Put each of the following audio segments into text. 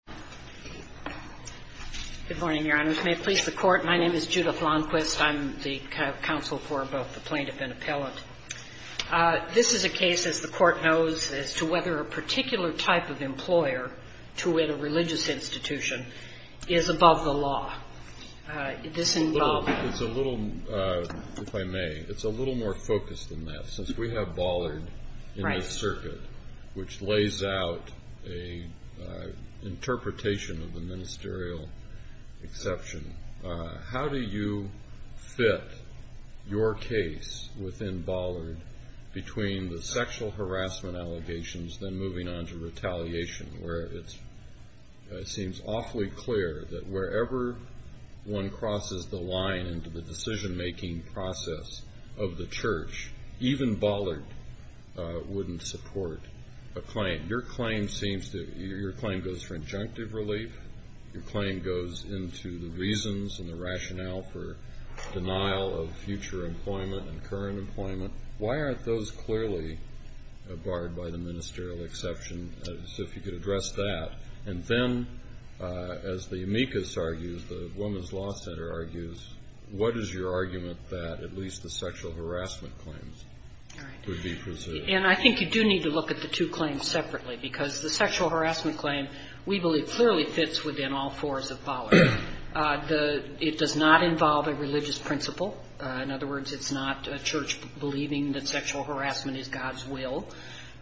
Judith L'Enquist, Counsel for Plaintiff and Appellant Ministerial Exception. How do you fit your case within Bollard between the sexual harassment allegations, then moving on to retaliation, where it seems awfully clear that wherever one crosses the line into the decision-making process of the church, even Bollard wouldn't support a claim? Your claim goes for injunctive relief. Your claim goes into the reasons and the rationale for denial of future employment and current employment. Why aren't those clearly barred by the ministerial exception, as if you could address that? And then, as the amicus argues, the Women's Law Center argues, what is your argument that at least the sexual harassment claims do need to look at the two claims separately? Because the sexual harassment claim, we believe, clearly fits within all fours of Bollard. It does not involve a religious principle. In other words, it's not a church believing that sexual harassment is God's will.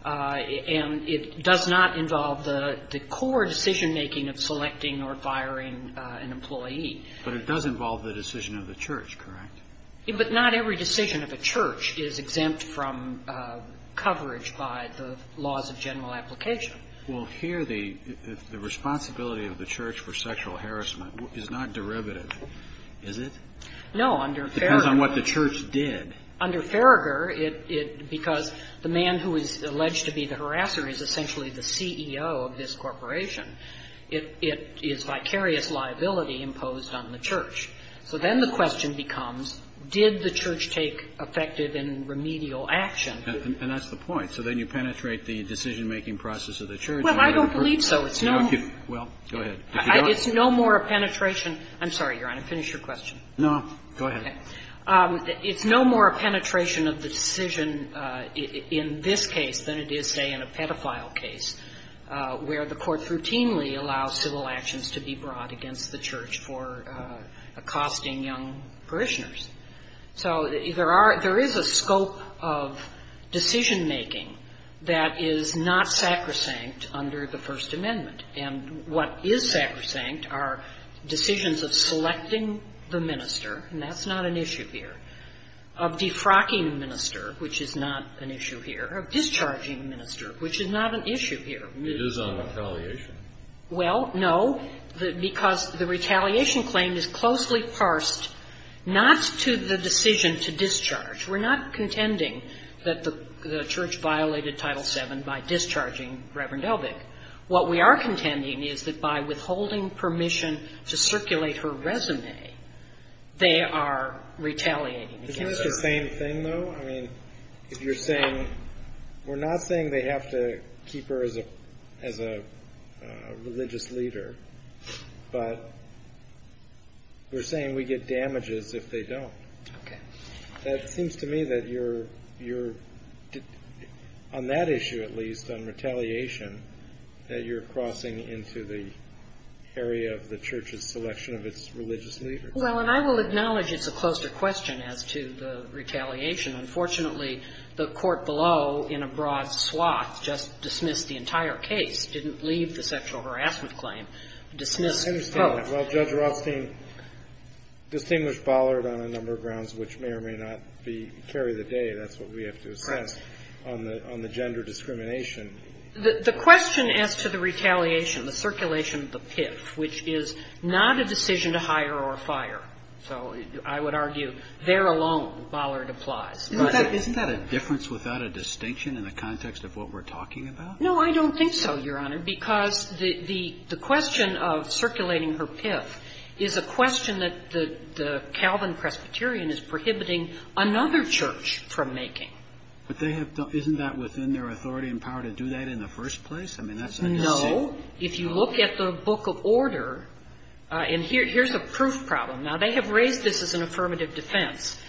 And it does not involve the core decision-making of selecting or firing an employee. But it does involve the decision of the church, correct? But not every decision of a church is exempt from coverage by the laws of general application. Well, here the responsibility of the church for sexual harassment is not derivative, is it? No, under Farragher. It depends on what the church did. Under Farragher, because the man who is alleged to be the harasser is essentially the CEO of this corporation, it is vicarious liability imposed on the church. So then the question becomes, did the church take effective and remedial action? And that's the point. So then you penetrate the decision-making process of the church. Well, I don't believe so. It's no more a penetration. I'm sorry, Your Honor. Finish your question. No. Go ahead. It's no more a penetration of the decision in this case than it is, say, in a pedophile case, where the court routinely allows civil actions to be brought against the church for accosting young parishioners. So there is a scope of decision-making that is not sacrosanct under the First Amendment. And what is sacrosanct are decisions of selecting the minister, and that's not an issue here, of defrocking the minister, which is not an issue here, of discharging the minister, which is not an issue here. It is on retaliation. Well, no, because the retaliation claim is closely parsed not to the decision to discharge. We're not contending that the church violated Title VII by discharging Reverend Elvig. What we are contending is that by withholding permission to circulate her resume, they are retaliating against her. Isn't that the same thing, though? I mean, if you're saying, we're not saying they have to keep her as a religious leader, but we're saying we get damages if they don't. Okay. That seems to me that you're, on that issue at least, on retaliation, that you're crossing into the area of the church's selection of its religious leader. Well, and I will acknowledge it's a closer question as to the retaliation. Unfortunately, the court below, in a broad swath, just dismissed the entire case, didn't leave the sexual harassment claim, dismissed both. I understand that. Well, Judge Rothstein distinguished Bollard on a number of grounds which may or may not carry the day. That's what we have to assess on the gender discrimination. The question as to the retaliation, the circulation of the PIF, which is not a decision to hire or fire. So I would argue, there alone, Bollard applies. Isn't that a difference without a distinction in the context of what we're talking about? No, I don't think so, Your Honor, because the question of circulating her PIF is a question that the Calvin Presbyterian is prohibiting another church from making. But they have, isn't that within their authority and power to do that in the first place? I mean, that's a distinction. So if you look at the Book of Order, and here's a proof problem. Now, they have raised this as an affirmative defense.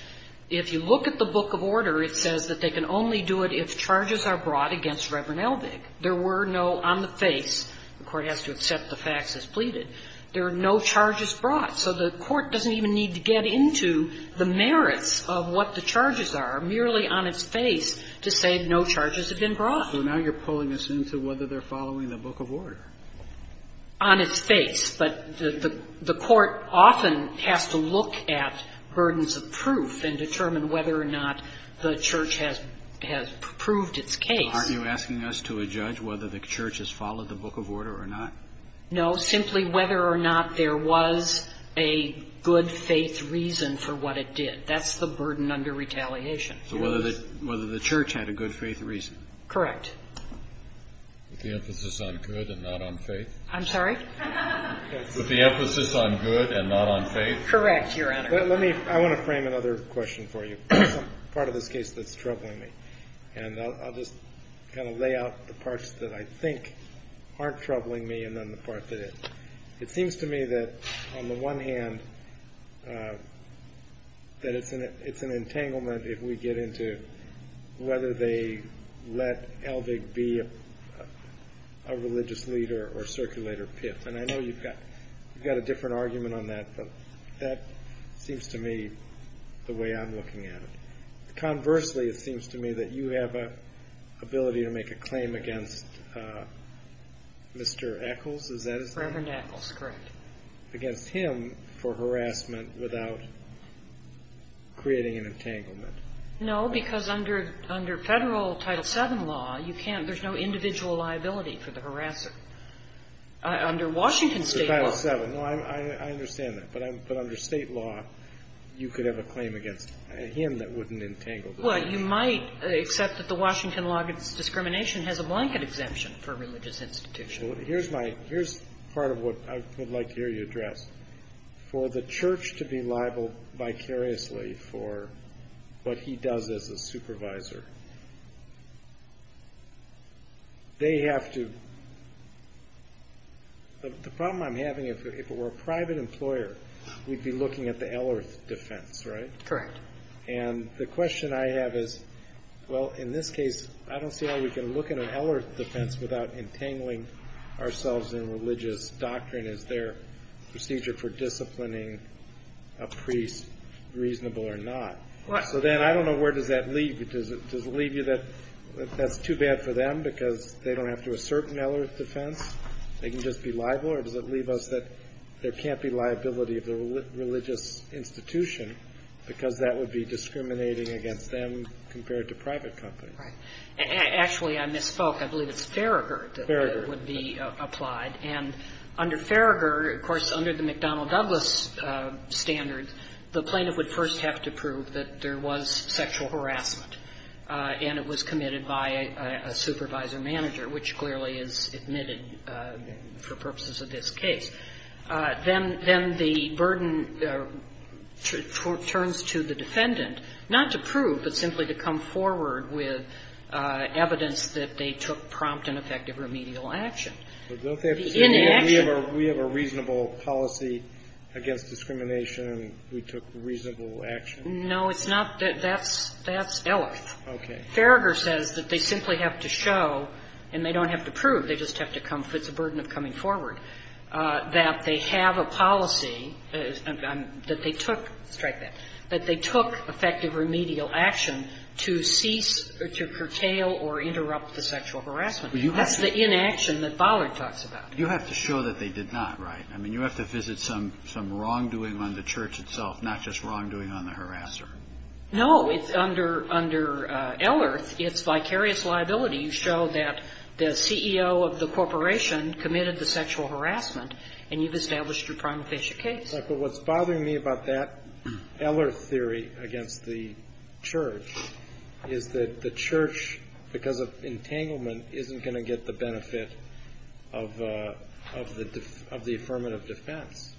If you look at the Book of Order, it says that they can only do it if charges are brought against Reverend Elvig. There were no on the face, the court has to accept the facts as pleaded, there are no charges brought. So the court doesn't even need to get into the merits of what the charges are merely on its face to say no charges have been brought. So now you're pulling us into whether they're following the Book of Order. On its face. But the court often has to look at burdens of proof and determine whether or not the church has proved its case. Aren't you asking us to adjudge whether the church has followed the Book of Order or not? No, simply whether or not there was a good faith reason for what it did. That's the burden under retaliation. So whether the church had a good faith reason. Correct. With the emphasis on good and not on faith? I'm sorry? With the emphasis on good and not on faith? Correct, Your Honor. Let me, I want to frame another question for you. Part of this case that's troubling me. And I'll just kind of lay out the parts that I think aren't troubling me and then the part that is. It seems to me that on the one hand that it's an entanglement if we get into whether they let Elvig be a religious leader or circulator piff. And I know you've got a different argument on that, but that seems to me the way I'm looking at it. Conversely, it seems to me that you have an ability to make a claim against Mr. Eccles, is that his name? Reverend Eccles, correct. Against him for harassment without creating an entanglement. No, because under federal Title VII law, you can't, there's no individual liability for the harasser. Under Washington state law. Title VII, I understand that. But under state law, you could have a claim against him that wouldn't entangle him. Well, you might accept that the Washington law against discrimination has a blanket exemption for religious institution. Here's my, here's part of what I would like to hear you address. For the church to be liable vicariously for what he does as a supervisor, they have to, the problem I'm having, if it were a private employer, we'd be looking at the L-Earth defense, right? Correct. And the question I have is, well, in this case, I don't see how we can look at an L-Earth defense without entangling ourselves in religious doctrine. Is their procedure for disciplining a priest reasonable or not? So then, I don't know, where does that leave you? Does it leave you that that's too bad for them because they don't have to assert an L-Earth defense? They can just be liable? Or does it leave us that there can't be liability of the religious institution because that would be discriminating against them compared to private companies? Right. Actually, I misspoke. I believe it's Farragut that would be applied. Farragut. Farragut, of course, under the McDonnell Douglas standard, the plaintiff would first have to prove that there was sexual harassment, and it was committed by a supervisor manager, which clearly is admitted for purposes of this case. Then the burden turns to the defendant, not to prove, but simply to come forward with evidence that they took prompt and effective remedial action. But don't they have to say we have a reasonable policy against discrimination and we took reasonable action? No, it's not. That's L-Earth. Okay. Farragut says that they simply have to show, and they don't have to prove. They just have to come. It's a burden of coming forward, that they have a policy that they took. Strike that. That they took effective remedial action to cease or to curtail or interrupt the sexual harassment. That's the inaction that Bollard talks about. You have to show that they did not, right? I mean, you have to visit some wrongdoing on the church itself, not just wrongdoing on the harasser. No. Under L-Earth, it's vicarious liability. You show that the CEO of the corporation committed the sexual harassment, and you've established your prima facie case. But what's bothering me about that L-Earth theory against the church is that the church is going to get the benefit of the affirmative defense.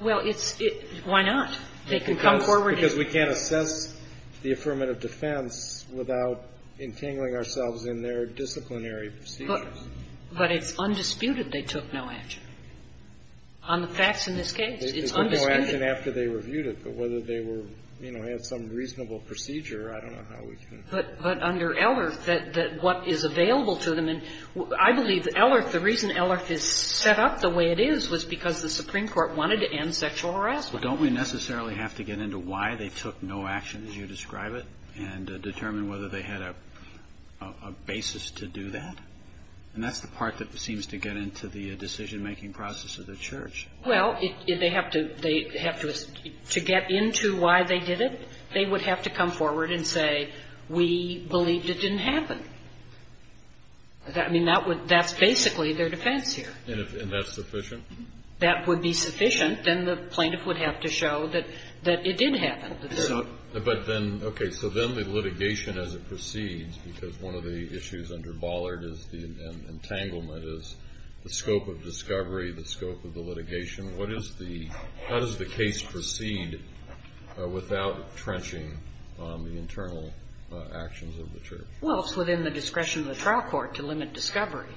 Well, it's why not? They can come forward. Because we can't assess the affirmative defense without entangling ourselves in their disciplinary procedures. But it's undisputed they took no action. On the facts in this case, it's undisputed. They took no action after they reviewed it. But whether they were, you know, had some reasonable procedure, I don't know how we can. But under L-Earth, what is available to them, and I believe L-Earth, the reason L-Earth is set up the way it is was because the Supreme Court wanted to end sexual harassment. Well, don't we necessarily have to get into why they took no action, as you describe it, and determine whether they had a basis to do that? And that's the part that seems to get into the decision-making process of the church. Well, they have to get into why they did it. They would have to come forward and say, we believed it didn't happen. I mean, that's basically their defense here. And that's sufficient? That would be sufficient. Then the plaintiff would have to show that it did happen. But then, okay, so then the litigation as it proceeds, because one of the issues under Bollard is the entanglement, is the scope of discovery, the scope of the litigation. How does the case proceed without trenching the internal actions of the church? Well, it's within the discretion of the trial court to limit discovery.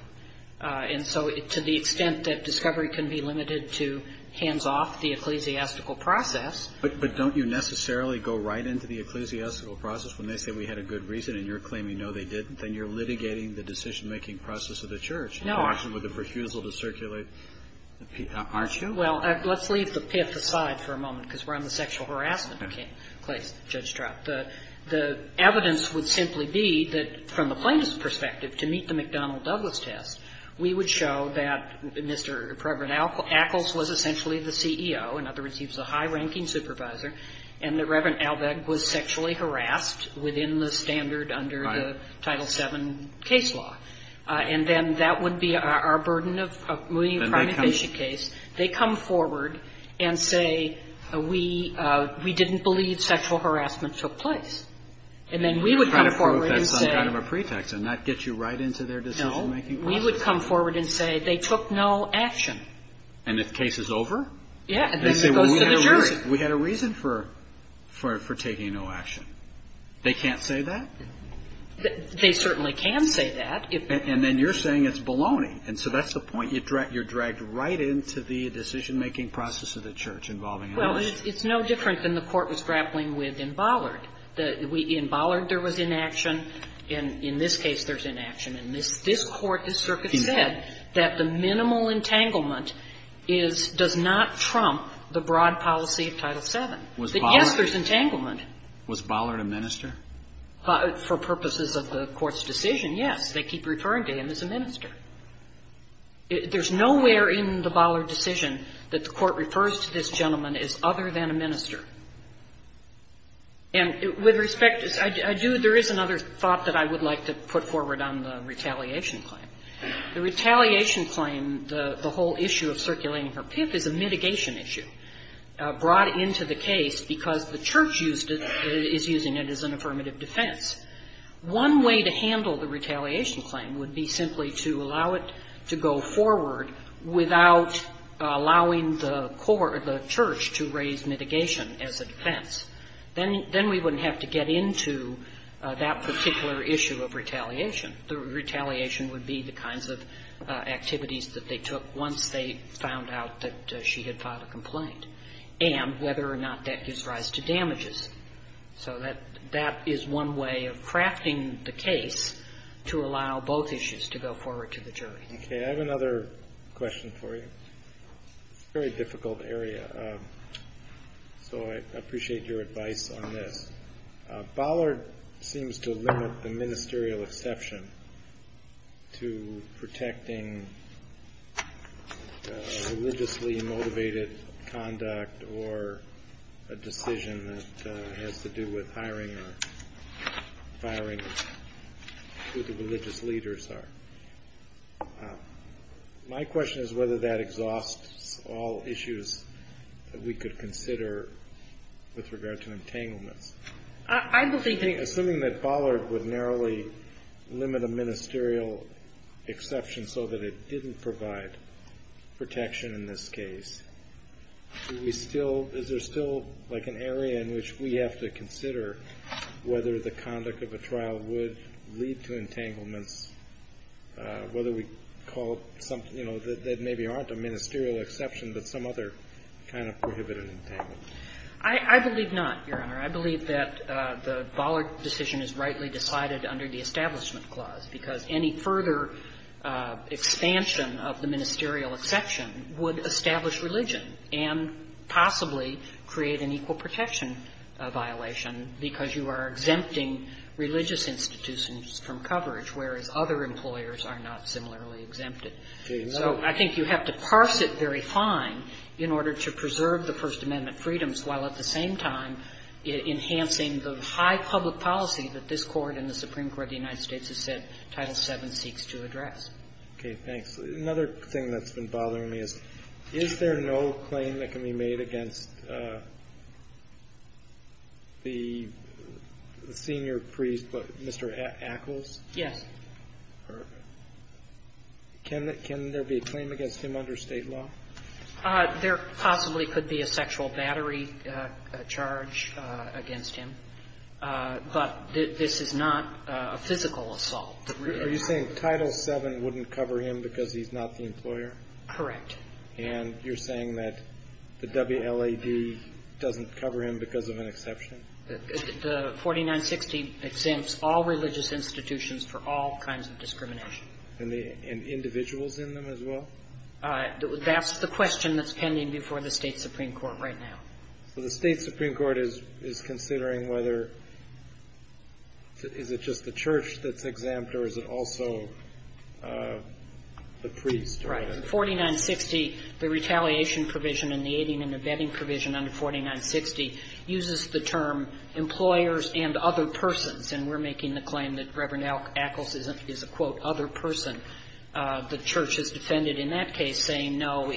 And so to the extent that discovery can be limited to hands-off the ecclesiastical process. But don't you necessarily go right into the ecclesiastical process when they say we had a good reason and you're claiming, no, they didn't? Then you're litigating the decision-making process of the church. No. And you have to have a discussion with the refusal to circulate the PIF, aren't you? Well, let's leave the PIF aside for a moment because we're on the sexual harassment case, Judge Stroud. The evidence would simply be that from the plaintiff's perspective, to meet the McDonnell-Douglas test, we would show that Mr. Reverend Ackles was essentially the CEO, in other words, he was a high-ranking supervisor, and that Reverend Albeck was sexually harassed within the standard under the Title VII case law. And then that would be our burden of moving a crime-invasion case. They come forward and say we didn't believe sexual harassment took place. And then we would come forward and say no, we would come forward and say they took no action. And if the case is over? Yeah. And then it goes to the jury. We had a reason for taking no action. They can't say that? They certainly can say that. And then you're saying it's baloney. And so that's the point. You're dragged right into the decision-making process of the Church involving an election. Well, it's no different than the Court was grappling with in Bollard. In Bollard, there was inaction. In this case, there's inaction. And this Court, this Circuit said that the minimal entanglement does not trump the broad policy of Title VII. Yes, there's entanglement. Was Bollard a minister? For purposes of the Court's decision, yes. They keep referring to him as a minister. There's nowhere in the Bollard decision that the Court refers to this gentleman as other than a minister. And with respect, there is another thought that I would like to put forward on the retaliation claim. The retaliation claim, the whole issue of circulating her pimp is a mitigation issue brought into the case because the Church used it as an affirmative defense. One way to handle the retaliation claim would be simply to allow it to go forward without allowing the Church to raise mitigation as a defense. Then we wouldn't have to get into that particular issue of retaliation. The retaliation would be the kinds of activities that they took once they found out that she had filed a complaint and whether or not that gives rise to damages. So that is one way of crafting the case to allow both issues to go forward to the jury. Okay. I have another question for you. It's a very difficult area, so I appreciate your advice on this. Bollard seems to limit the ministerial exception to protecting religiously motivated conduct or a decision that has to do with hiring or firing who the religious leaders are. My question is whether that exhausts all issues that we could consider with Bollard. Assuming that Bollard would narrowly limit a ministerial exception so that it didn't provide protection in this case, is there still an area in which we have to consider whether the conduct of a trial would lead to entanglements, whether we call it something that maybe aren't a ministerial exception but some other kind of prohibited entanglement? I believe not, Your Honor. I believe that the Bollard decision is rightly decided under the Establishment Clause, because any further expansion of the ministerial exception would establish religion and possibly create an equal protection violation, because you are exempting religious institutions from coverage, whereas other employers are not similarly exempted. So I think you have to parse it very fine in order to preserve the First Amendment freedoms, while at the same time enhancing the high public policy that this Court and the Supreme Court of the United States has said Title VII seeks to address. Okay. Thanks. Another thing that's been bothering me is, is there no claim that can be made against the senior priest, Mr. Ackles? Yes. Can there be a claim against him under State law? There possibly could be a sexual battery charge against him. But this is not a physical assault. Are you saying Title VII wouldn't cover him because he's not the employer? Correct. And you're saying that the WLAD doesn't cover him because of an exception? The 4960 exempts all religious institutions for all kinds of discrimination. And individuals in them as well? That's the question that's pending before the State supreme court right now. So the State supreme court is considering whether, is it just the church that's exempt, or is it also the priest? Right. The 4960, the retaliation provision and the aiding and abetting provision under 4960 uses the term employers and other persons. And we're making the claim that Reverend Ackles is a, quote, other person. The church has defended in that case saying, no,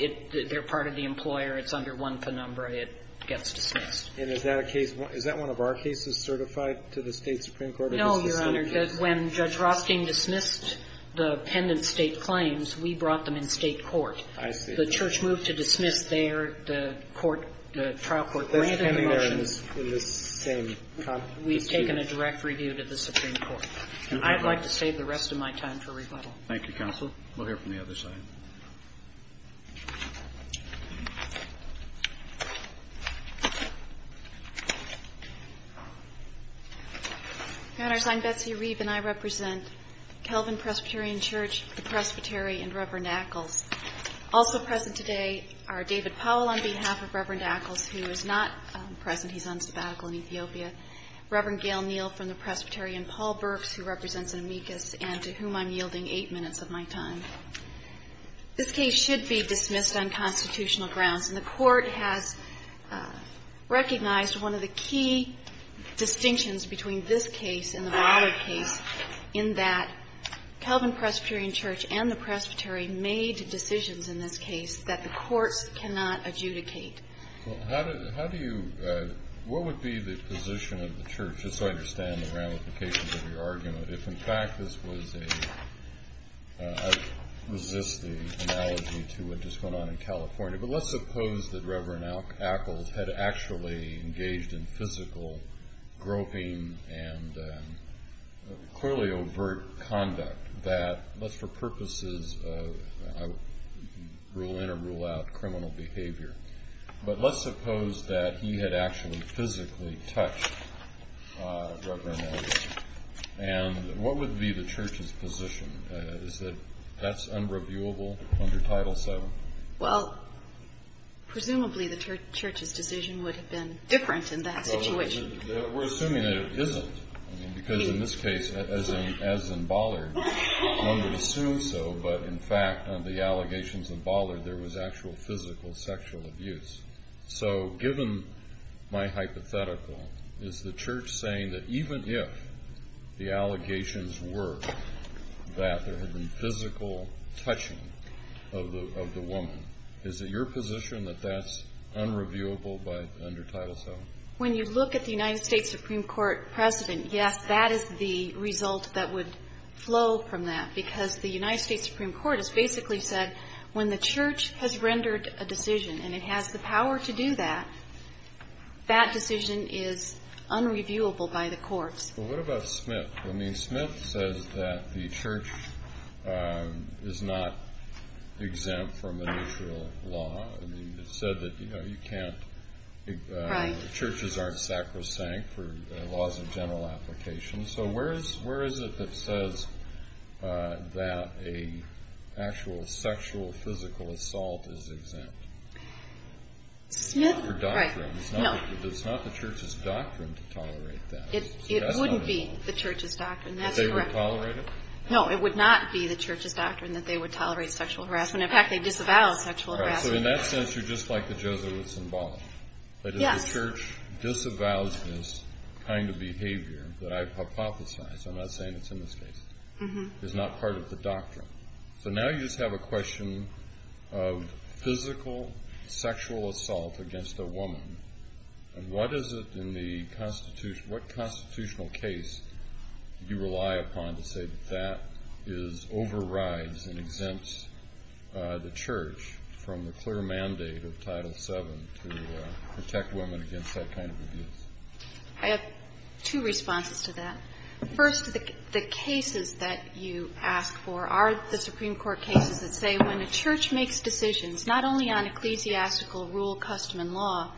they're part of the employer. It's under one penumbra. It gets dismissed. And is that a case? Is that one of our cases certified to the State supreme court? No, Your Honor. When Judge Rothstein dismissed the pendent State claims, we brought them in State court. I see. The church moved to dismiss there the court, the trial court. But that's pending there in this same dispute. We've taken a direct review to the supreme court. I'd like to save the rest of my time for rebuttal. Thank you, Counsel. We'll hear from the other side. Your Honor, I'm Betsy Reeve, and I represent Kelvin Presbyterian Church, the Presbytery, and Reverend Ackles. Also present today are David Powell on behalf of Reverend Ackles, who is not present. He's on sabbatical in Ethiopia. Reverend Gail Neal from the Presbytery, and Paul Burks, who represents Amicus, and to whom I'm yielding eight minutes of my time. This case should be dismissed on constitutional grounds. And the Court has recognized one of the key distinctions between this case and the broader case in that Kelvin Presbyterian Church and the Presbytery made decisions in this case that the courts cannot adjudicate. Well, how do you – what would be the position of the church, just so I understand the ramifications of your argument? If, in fact, this was a – I resist the analogy to what just went on in California, but let's suppose that Reverend Ackles had actually engaged in physical groping and clearly overt conduct that, let's for purposes of rule in or rule out criminal behavior, but let's suppose that he had actually physically touched Reverend Ackles. And what would be the church's position? Is that that's unreviewable under Title VII? Well, presumably the church's decision would have been different in that situation. We're assuming that it isn't, because in this case, as in Ballard, one would assume so, but in fact, on the allegations in Ballard, there was actual physical sexual abuse. So given my hypothetical, is the church saying that even if the allegations were that there had been physical touching of the woman, is it your position that that's unreviewable under Title VII? When you look at the United States Supreme Court precedent, yes, that is the result that would flow from that, because the United States Supreme Court has basically said when the church has rendered a decision and it has the power to do that, that decision is unreviewable by the courts. Well, what about Smith? I mean, Smith says that the church is not exempt from initial law. I mean, it said that, you know, churches aren't sacrosanct for laws of general application. So where is it that says that an actual sexual physical assault is exempt? Smith? It's not the church's doctrine to tolerate that. It wouldn't be the church's doctrine. That's correct. That they would tolerate it? No, it would not be the church's doctrine that they would tolerate sexual harassment. In fact, they disavow sexual harassment. So in that sense, you're just like the Jesuits in Ballard. Yes. The church disavows this kind of behavior that I've hypothesized. I'm not saying it's in this case. It's not part of the doctrine. So now you just have a question of physical sexual assault against a woman, and what is it in the Constitution, what constitutional case do you rely upon to say that that is overrides and exempts the church from the clear mandate of protecting women against that kind of abuse? I have two responses to that. First, the cases that you ask for are the Supreme Court cases that say when a church makes decisions, not only on ecclesiastical rule, custom, and law,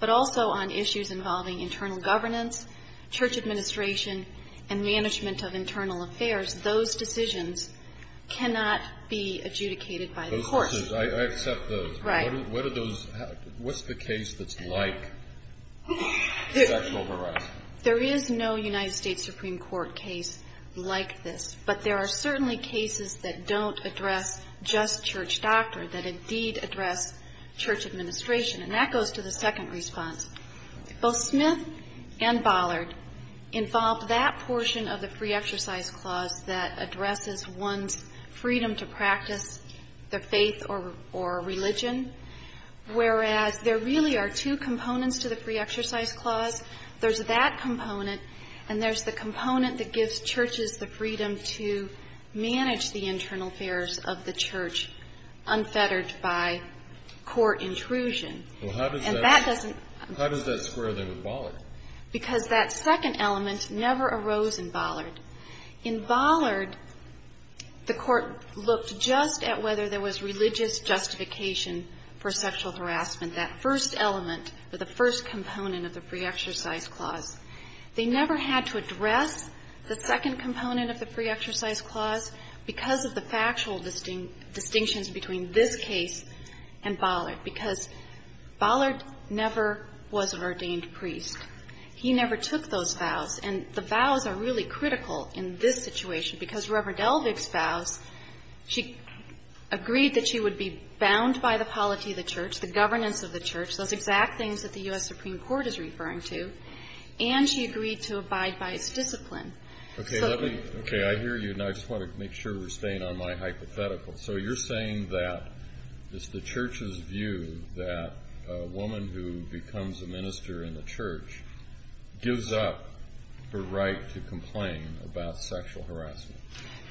but also on issues involving internal governance, church administration, and management of internal affairs, those decisions cannot be adjudicated by the courts. I accept those. Right. What's the case that's like sexual harassment? There is no United States Supreme Court case like this, but there are certainly cases that don't address just church doctrine, that indeed address church administration, and that goes to the second response. Both Smith and Ballard involve that portion of the free exercise clause that there really are two components to the free exercise clause. There's that component, and there's the component that gives churches the freedom to manage the internal affairs of the church unfettered by court intrusion. Well, how does that square in with Ballard? Because that second element never arose in Ballard. In Ballard, the court looked just at whether there was religious justification for sexual harassment, that first element, or the first component of the free exercise clause. They never had to address the second component of the free exercise clause because of the factual distinctions between this case and Ballard, because Ballard never was an ordained priest. He never took those vows, and the vows are really critical in this situation, because Reverend Elvig's vows, she agreed that she would be bound by the polity of the church, the governance of the church, those exact things that the U.S. Supreme Court is referring to, and she agreed to abide by its discipline. Okay, I hear you, and I just want to make sure we're staying on my hypothetical. So you're saying that it's the church's view that a woman who becomes a minister in the church gives up her right to complain about sexual harassment?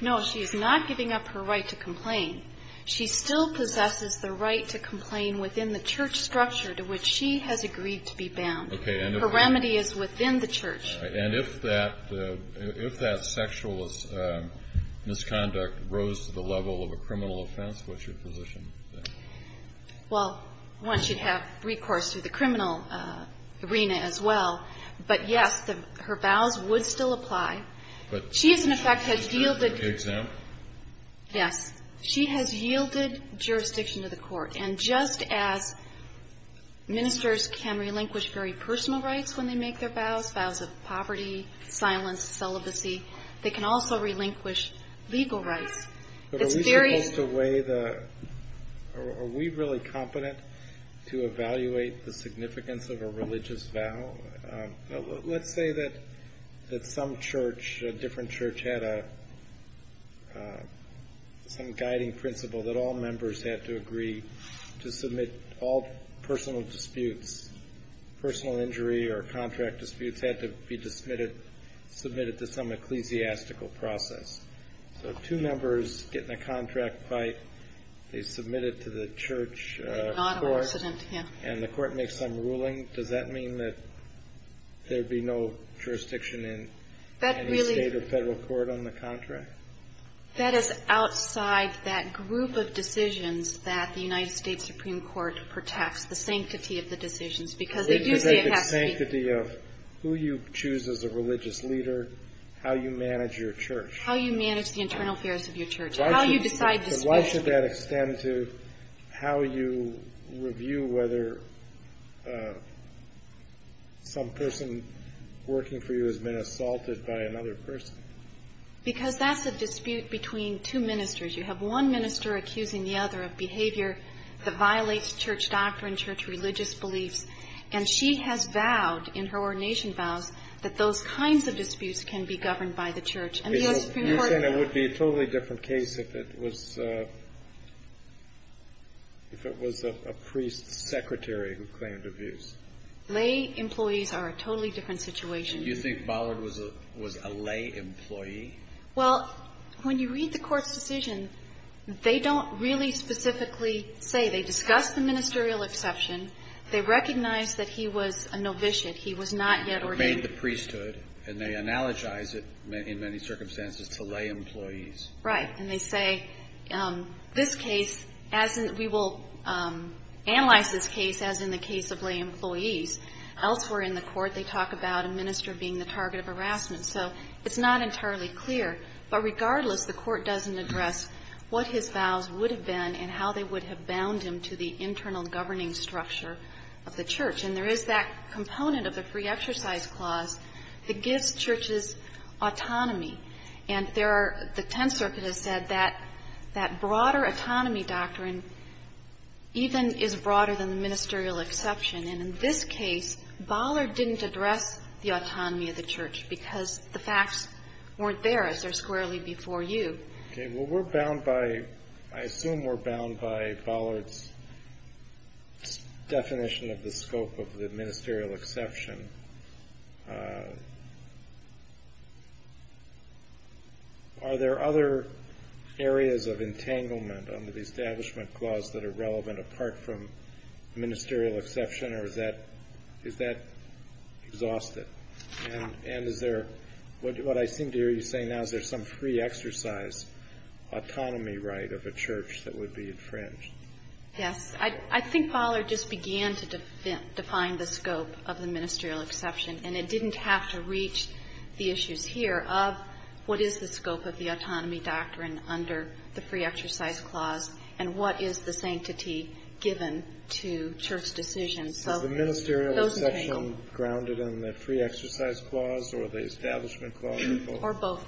No, she is not giving up her right to complain. She still possesses the right to complain within the church structure to which she has agreed to be bound. Her remedy is within the church. And if that sexual misconduct rose to the level of a criminal offense, what's your position? Well, one, she'd have recourse to the criminal arena as well. But, yes, her vows would still apply. But she, as a matter of fact, has yielded. Is she exempt? Yes. She has yielded jurisdiction to the court. And just as ministers can relinquish very personal rights when they make their vows, vows of poverty, silence, celibacy, they can also relinquish legal rights. But are we supposed to weigh the – are we really competent to evaluate the significance of a religious vow? Let's say that some church, a different church, had some guiding principle that all members had to agree to submit all personal disputes, personal injury or contract disputes had to be submitted to some ecclesiastical process. So two members get in a contract fight. They submit it to the church court. Non-incident, yeah. And the court makes some ruling. Does that mean that there'd be no jurisdiction in any state or federal court on the contract? That is outside that group of decisions that the United States Supreme Court protects, the sanctity of the decisions. Because they do say it has to be – They do say the sanctity of who you choose as a religious leader, how you manage your church. How you manage the internal affairs of your church. How you decide disputes. Why should that extend to how you review whether some person working for you has been assaulted by another person? Because that's a dispute between two ministers. You have one minister accusing the other of behavior that violates church doctrine, church religious beliefs. And she has vowed in her ordination vows that those kinds of disputes can be governed by the church. And the U.S. Supreme Court – You think it would be a totally different case if it was a priest secretary who claimed abuse? Lay employees are a totally different situation. Do you think Ballard was a lay employee? Well, when you read the court's decision, they don't really specifically say. They discuss the ministerial exception. They recognize that he was a novitiate. He was not yet ordained. And they analogize it in many circumstances to lay employees. Right. And they say, this case, we will analyze this case as in the case of lay employees. Elsewhere in the court, they talk about a minister being the target of harassment. So it's not entirely clear. But regardless, the court doesn't address what his vows would have been and how they would have bound him to the internal governing structure of the church. And there is that component of the pre-exercise clause that gives churches autonomy. And there are – the Tenth Circuit has said that that broader autonomy doctrine even is broader than the ministerial exception. And in this case, Ballard didn't address the autonomy of the church because the facts weren't there as they're squarely before you. Okay. Well, we're bound by – I assume we're bound by Ballard's definition of the scope of the ministerial exception. Are there other areas of entanglement under the Establishment Clause that are relevant apart from ministerial exception, or is that exhausted? And is there – what I seem to hear you say now, is there some free-exercise autonomy right of a church that would be infringed? Yes. I think Ballard just began to define the scope of the ministerial exception. And it didn't have to reach the issues here of what is the scope of the autonomy doctrine under the free-exercise clause and what is the sanctity given to church decisions. Is the ministerial exception grounded in the free-exercise clause or the Establishment Clause? Or both.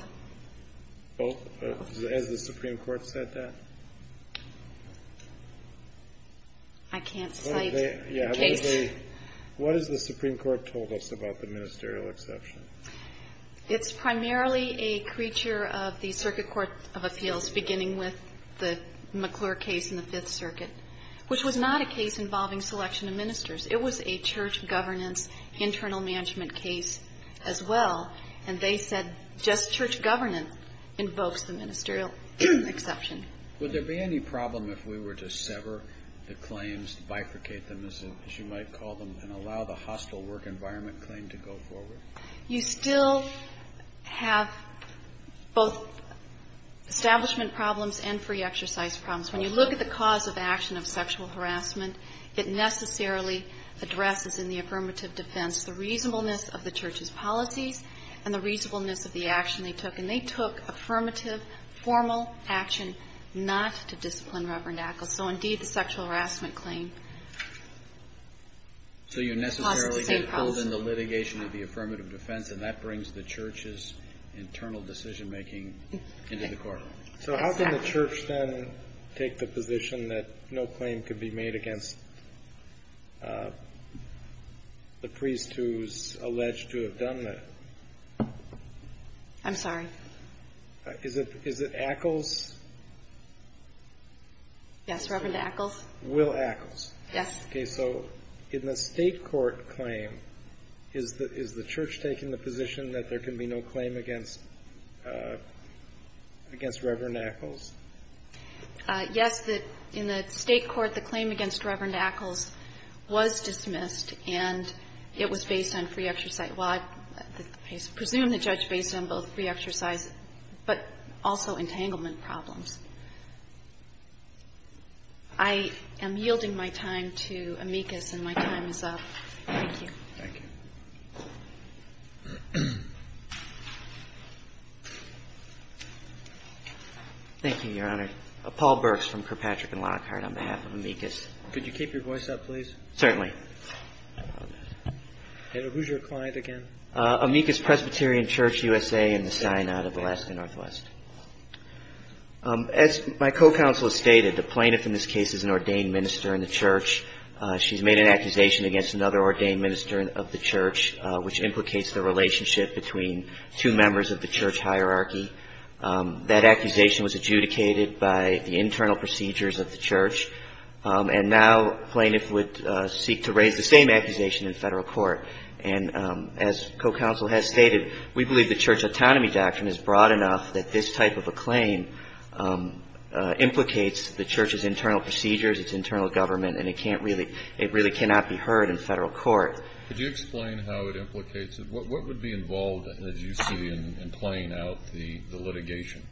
Both? Both. Has the Supreme Court said that? I can't cite a case. What has the Supreme Court told us about the ministerial exception? It's primarily a creature of the Circuit Court of Appeals, beginning with the McClure case in the Fifth Circuit, which was not a case involving selection of ministers. It was a church governance internal management case as well. And they said just church governance invokes the ministerial exception. Would there be any problem if we were to sever the claims, bifurcate them, as you might call them, and allow the hostile work environment claim to go forward? You still have both establishment problems and free-exercise problems. When you look at the cause of action of sexual harassment, it necessarily addresses in the affirmative defense the reasonableness of the church's policies and the reasonableness of the action they took. And they took affirmative, formal action not to discipline Reverend Ackles. So, indeed, the sexual harassment claim caused the same problem. So you necessarily get pulled in the litigation of the affirmative defense, and that brings the church's internal decision-making into the court. So how can the church then take the position that no claim could be made against the priest who's alleged to have done that? I'm sorry? Is it Ackles? Yes, Reverend Ackles. Will Ackles. Yes. Okay. So in the State court claim, is the church taking the position that there can be no claim against Reverend Ackles? Yes. In the State court, the claim against Reverend Ackles was dismissed, and it was based on free exercise. Well, I presume the judge based it on both free exercise but also entanglement problems. I am yielding my time to amicus, and my time is up. Thank you. Thank you. Thank you, Your Honor. Paul Burks from Kirkpatrick and Lockhart on behalf of amicus. Could you keep your voice up, please? Certainly. And who's your client again? Amicus Presbyterian Church, USA, in the Sinai of Alaska Northwest. As my co-counsel has stated, the plaintiff in this case is an ordained minister in the church. She's made an accusation against another ordained minister of the church, which implicates the relationship between two members of the church hierarchy. That accusation was adjudicated by the internal procedures of the church, and now plaintiff would seek to raise the same accusation in Federal court. And as co-counsel has stated, we believe the church autonomy doctrine is broad enough that this type of a claim implicates the church's internal procedures, its internal government, and it really cannot be heard in Federal court. Could you explain how it implicates it? What would be involved, as you see, in playing out the litigation?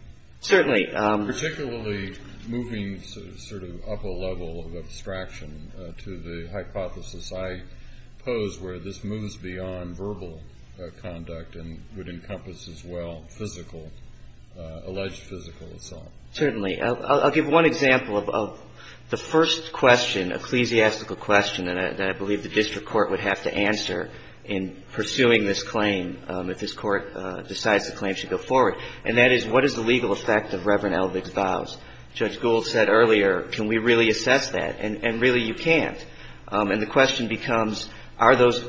Certainly. Particularly moving sort of up a level of abstraction to the hypothesis I pose where this moves beyond verbal conduct and would encompass as well alleged physical assault. Certainly. I'll give one example of the first question, ecclesiastical question that I believe the district court would have to answer in pursuing this claim if this court decides the claim should go forward. And that is, what is the legal effect of Reverend Elvig's vows? Judge Gould said earlier, can we really assess that? And really you can't. And the question becomes, are those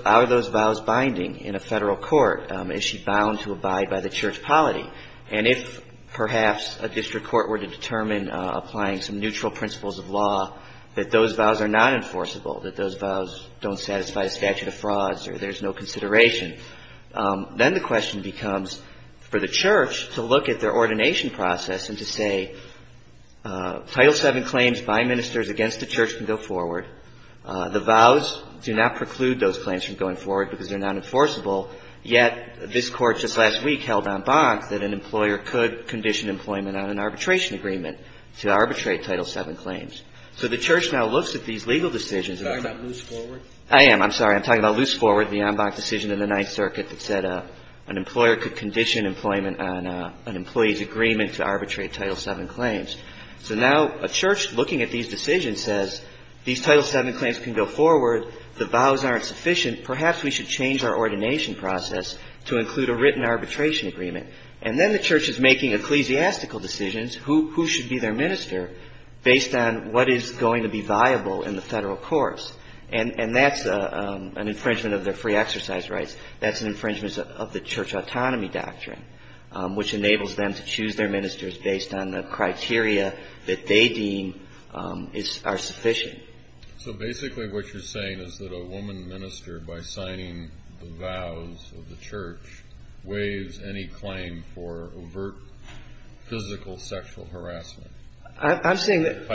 vows binding in a Federal court? Is she bound to abide by the church polity? And if perhaps a district court were to determine applying some neutral principles of law that those vows are not enforceable, that those vows don't satisfy the statute of frauds or there's no consideration, then the question becomes for the church to look at their ordination process and to say, Title VII claims by ministers against the church can go forward. The vows do not preclude those claims from going forward because they're not enforceable, yet this Court just last week held en banc that an employer could condition employment on an arbitration agreement to arbitrate Title VII claims. So the church now looks at these legal decisions. You're talking about loose forward? I am. I'm sorry. I'm talking about loose forward, the en banc decision in the Ninth Circuit that said an employer could condition employment on an employee's agreement to arbitrate Title VII claims. So now a church looking at these decisions says, these Title VII claims can go forward. The vows aren't sufficient. Perhaps we should change our ordination process to include a written arbitration agreement. And then the church is making ecclesiastical decisions, who should be their minister, based on what is going to be viable in the federal course. And that's an infringement of their free exercise rights. That's an infringement of the church autonomy doctrine, which enables them to choose their ministers based on the criteria that they deem are sufficient. So basically what you're saying is that a woman minister, by signing the vows of the church, waives any claim for overt physical sexual harassment? I'm saying that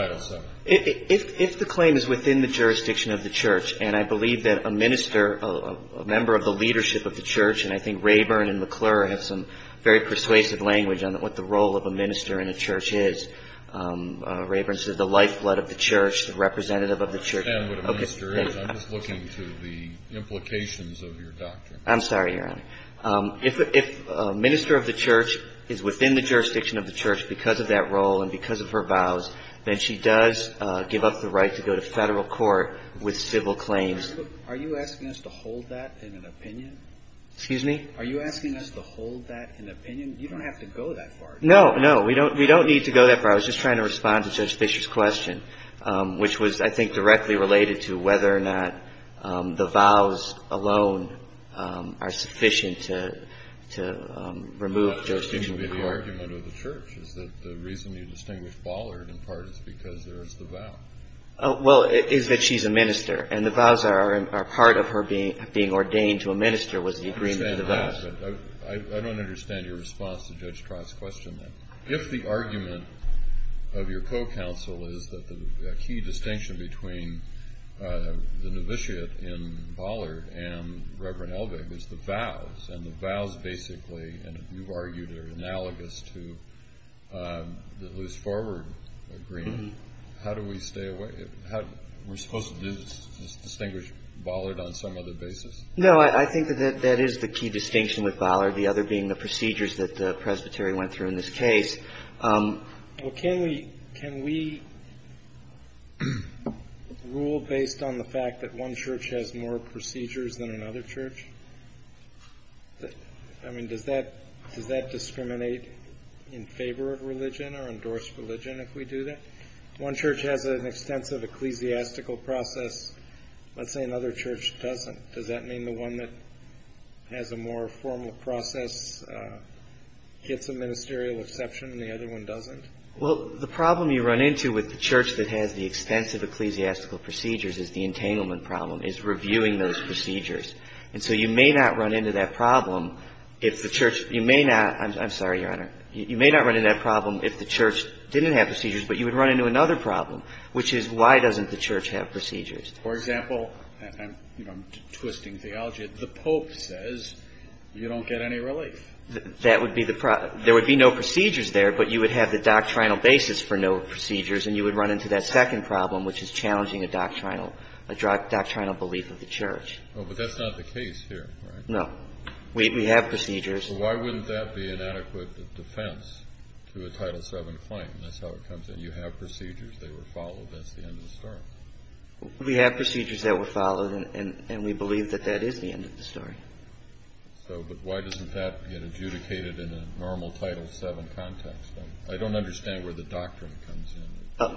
the claim is within the jurisdiction of the church. And I believe that a minister, a member of the leadership of the church, and I think Rayburn and McClure have some very persuasive language on what the role of a minister in a church is. Rayburn says the lifeblood of the church, the representative of the church. I don't understand what a minister is. I'm just looking to the implications of your doctrine. I'm sorry, Your Honor. If a minister of the church is within the jurisdiction of the church because of that role and because of her vows, then she does give up the right to go to federal court with civil claims. Are you asking us to hold that in an opinion? Excuse me? Are you asking us to hold that in an opinion? You don't have to go that far. No, no, we don't need to go that far. I was just trying to respond to Judge Fischer's question, which was I think directly related to whether or not the vows alone are sufficient to remove Judge Fischer from court. That doesn't seem to be the argument of the church, is that the reason you distinguish Ballard in part is because there is the vow. Well, it is that she's a minister, and the vows are part of her being ordained to a minister was the agreement of the vows. I understand that, but I don't understand your response to Judge Trott's question then. If the argument of your co-counsel is that the key distinction between the novitiate in Ballard and Reverend Elvig is the vows, and the vows basically, and you've argued they're analogous to the loose forward agreement, how do we stay away? We're supposed to distinguish Ballard on some other basis? No, I think that that is the key distinction with Ballard, the other being the procedures that the presbytery went through in this case. Well, can we rule based on the fact that one church has more procedures than another church? I mean, does that discriminate in favor of religion or endorse religion if we do that? One church has an extensive ecclesiastical process. Let's say another church doesn't. Does that mean the one that has a more formal process gets a ministerial exception and the other one doesn't? Well, the problem you run into with the church that has the extensive ecclesiastical procedures is the entanglement problem, is reviewing those procedures. And so you may not run into that problem if the church – you may not – I'm sorry, Your Honor. You may not run into that problem if the church didn't have procedures, but you would run into another problem, which is why doesn't the church have procedures? For example, I'm twisting theology. The pope says you don't get any relief. That would be the – there would be no procedures there, but you would have the doctrinal basis for no procedures, and you would run into that second problem, which is challenging a doctrinal belief of the church. But that's not the case here, right? No. We have procedures. So why wouldn't that be an adequate defense to a Title VII claim? That's how it comes in. You have procedures. They were followed. That's the end of the story. We have procedures that were followed, and we believe that that is the end of the story. So – but why doesn't that get adjudicated in a normal Title VII context? I don't understand where the doctrine comes in.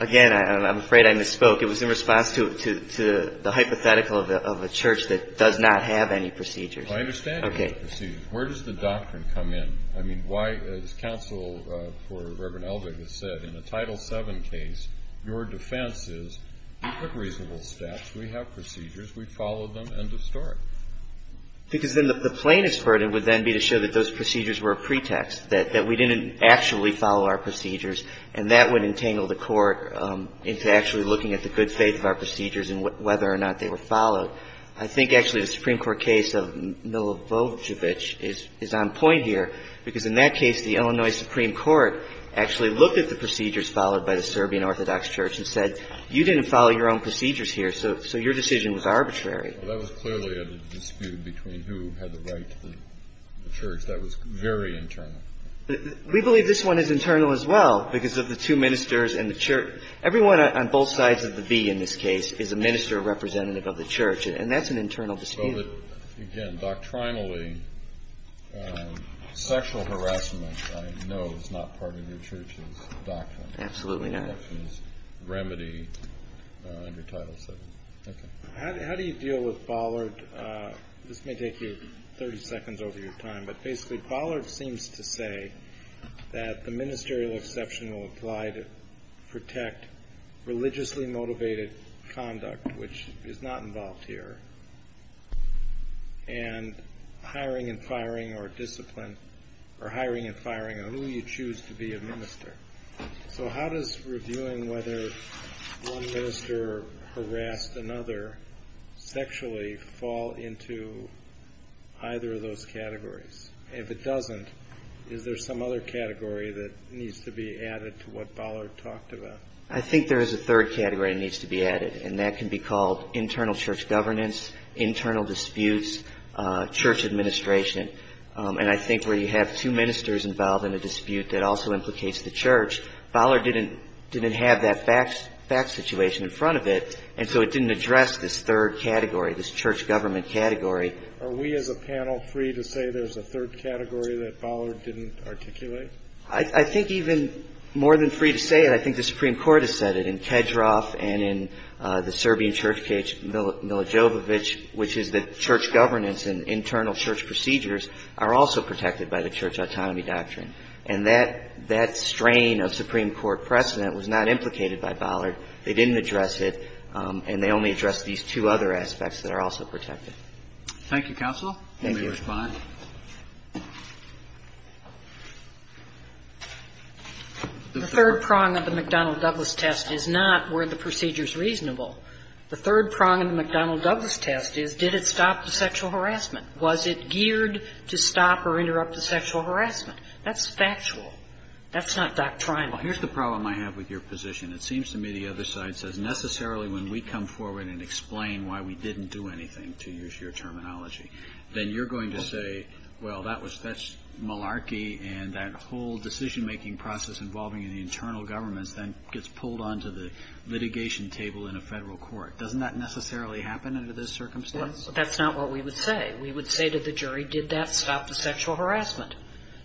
Again, I'm afraid I misspoke. It was in response to the hypothetical of a church that does not have any procedures. I understand you have procedures. Okay. Where does the doctrine come in? I mean, why – as counsel for Reverend Eldred has said, in a Title VII case, your defense is, we took reasonable steps. We have procedures. We followed them. End of story. Because then the plaintiff's burden would then be to show that those procedures were a pretext, that we didn't actually follow our procedures, and that would entangle the court into actually looking at the good faith of our procedures and whether or not they were followed. I think actually the Supreme Court case of Milovojevic is on point here, because in that case the Illinois Supreme Court actually looked at the procedures followed by the Serbian Orthodox Church and said, you didn't follow your own procedures here, so your decision was arbitrary. Well, that was clearly a dispute between who had the right to the church. That was very internal. We believe this one is internal as well, because of the two ministers and the church. Everyone on both sides of the V in this case is a minister representative of the church, and that's an internal dispute. Again, doctrinally, sexual harassment I know is not part of your church's doctrine. Absolutely not. Remedy under Title VII. Okay. How do you deal with Bollard? This may take you 30 seconds over your time, but basically Bollard seems to say that the ministerial exception will apply to protect religiously motivated conduct, which is not involved here, and hiring and firing or discipline or hiring and firing on who you choose to be a minister. So how does reviewing whether one minister harassed another sexually fall into either of those categories? If it doesn't, is there some other category that needs to be added to what Bollard talked about? I think there is a third category that needs to be added, and that can be called internal church governance, internal disputes, church administration, and I think where you have two ministers involved in a dispute that also implicates the church, Bollard didn't have that fact situation in front of it, and so it didn't address this third category, this church government category. Are we as a panel free to say there's a third category that Bollard didn't articulate? I think even more than free to say it, I think the Supreme Court has said it. the church governance in Cedrov and in the Serbian church, Milojovich, which is the church governance and internal church procedures, are also protected by the Church Autonomy doctrine. And that strain of Supreme Court precedent was not implicated by Bollard. They didn't address it, and they only addressed these two other aspects that are also protected. Thank you, counsel. Let me respond. The third prong of the McDonnell-Douglas test is not were the procedures reasonable. The third prong of the McDonnell-Douglas test is did it stop the sexual harassment? Was it geared to stop or interrupt the sexual harassment? That's factual. That's not doctrinal. Well, here's the problem I have with your position. It seems to me the other side says necessarily when we come forward and explain why we didn't do anything, to use your terminology, then you're going to say, well, that's malarkey and that whole decision-making process involving the internal governments then gets pulled onto the litigation table in a Federal court. Doesn't that necessarily happen under this circumstance? That's not what we would say. We would say to the jury, did that stop the sexual harassment?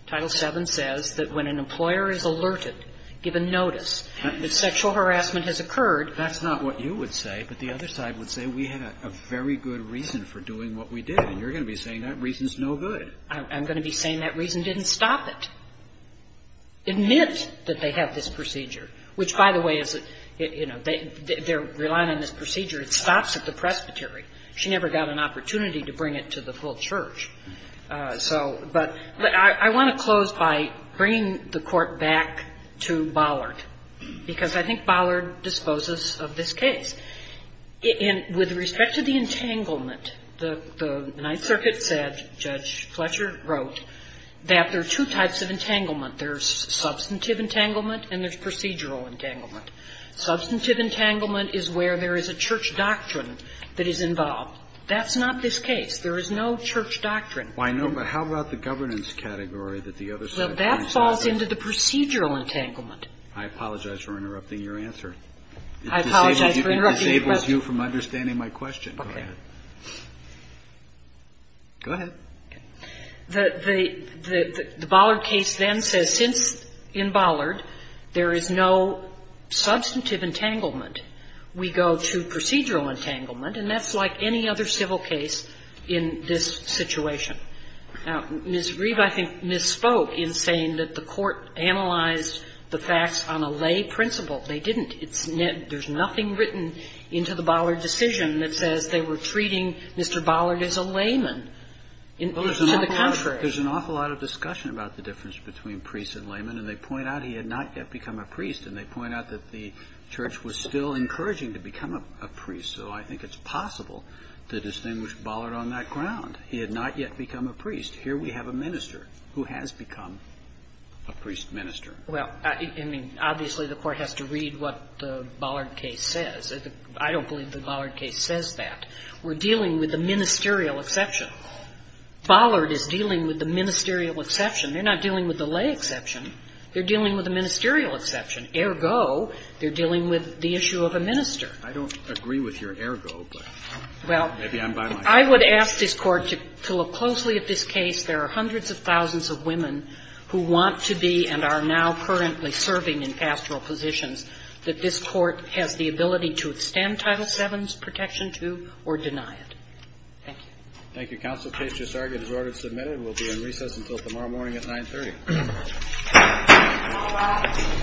Title VII says that when an employer is alerted, given notice, that sexual harassment has occurred. That's not what you would say. But the other side would say we had a very good reason for doing what we did. And you're going to be saying that reason is no good. I'm going to be saying that reason didn't stop it. Admit that they have this procedure, which, by the way, is, you know, they're relying on this procedure. It stops at the presbytery. She never got an opportunity to bring it to the full church. So, but I want to close by bringing the Court back to Bollard, because I think Bollard disposes of this case. And with respect to the entanglement, the Ninth Circuit said, Judge Fletcher wrote, that there are two types of entanglement. There's substantive entanglement and there's procedural entanglement. Substantive entanglement is where there is a church doctrine that is involved. That's not this case. There is no church doctrine. Well, I know, but how about the governance category that the other side points to? Well, that falls into the procedural entanglement. I apologize for interrupting your answer. I apologize for interrupting your question. It disables you from understanding my question. Okay. Go ahead. The Bollard case then says since in Bollard there is no substantive entanglement, we go to procedural entanglement, and that's like any other civil case in this situation. Now, Ms. Reeve, I think, misspoke in saying that the Court analyzed the facts on a lay principle. They didn't. There's nothing written into the Bollard decision that says they were treating Mr. Bollard as a layman. To the contrary. There's an awful lot of discussion about the difference between priest and layman. And they point out he had not yet become a priest. And they point out that the church was still encouraging to become a priest. So I think it's possible to distinguish Bollard on that ground. He had not yet become a priest. Here we have a minister who has become a priest minister. Well, I mean, obviously the Court has to read what the Bollard case says. I don't believe the Bollard case says that. We're dealing with a ministerial exception. Bollard is dealing with the ministerial exception. They're not dealing with the lay exception. They're dealing with a ministerial exception. Ergo, they're dealing with the issue of a minister. I don't agree with your ergo, but maybe I'm by myself. Well, I would ask this Court to look closely at this case. There are hundreds of thousands of women who want to be and are now currently serving in pastoral positions that this Court has the ability to extend Title VII's protection to or deny it. Thank you. Thank you, Counsel. Case just argued as ordered and submitted. We'll be in recess until tomorrow morning at 930. Thank you. Thank you.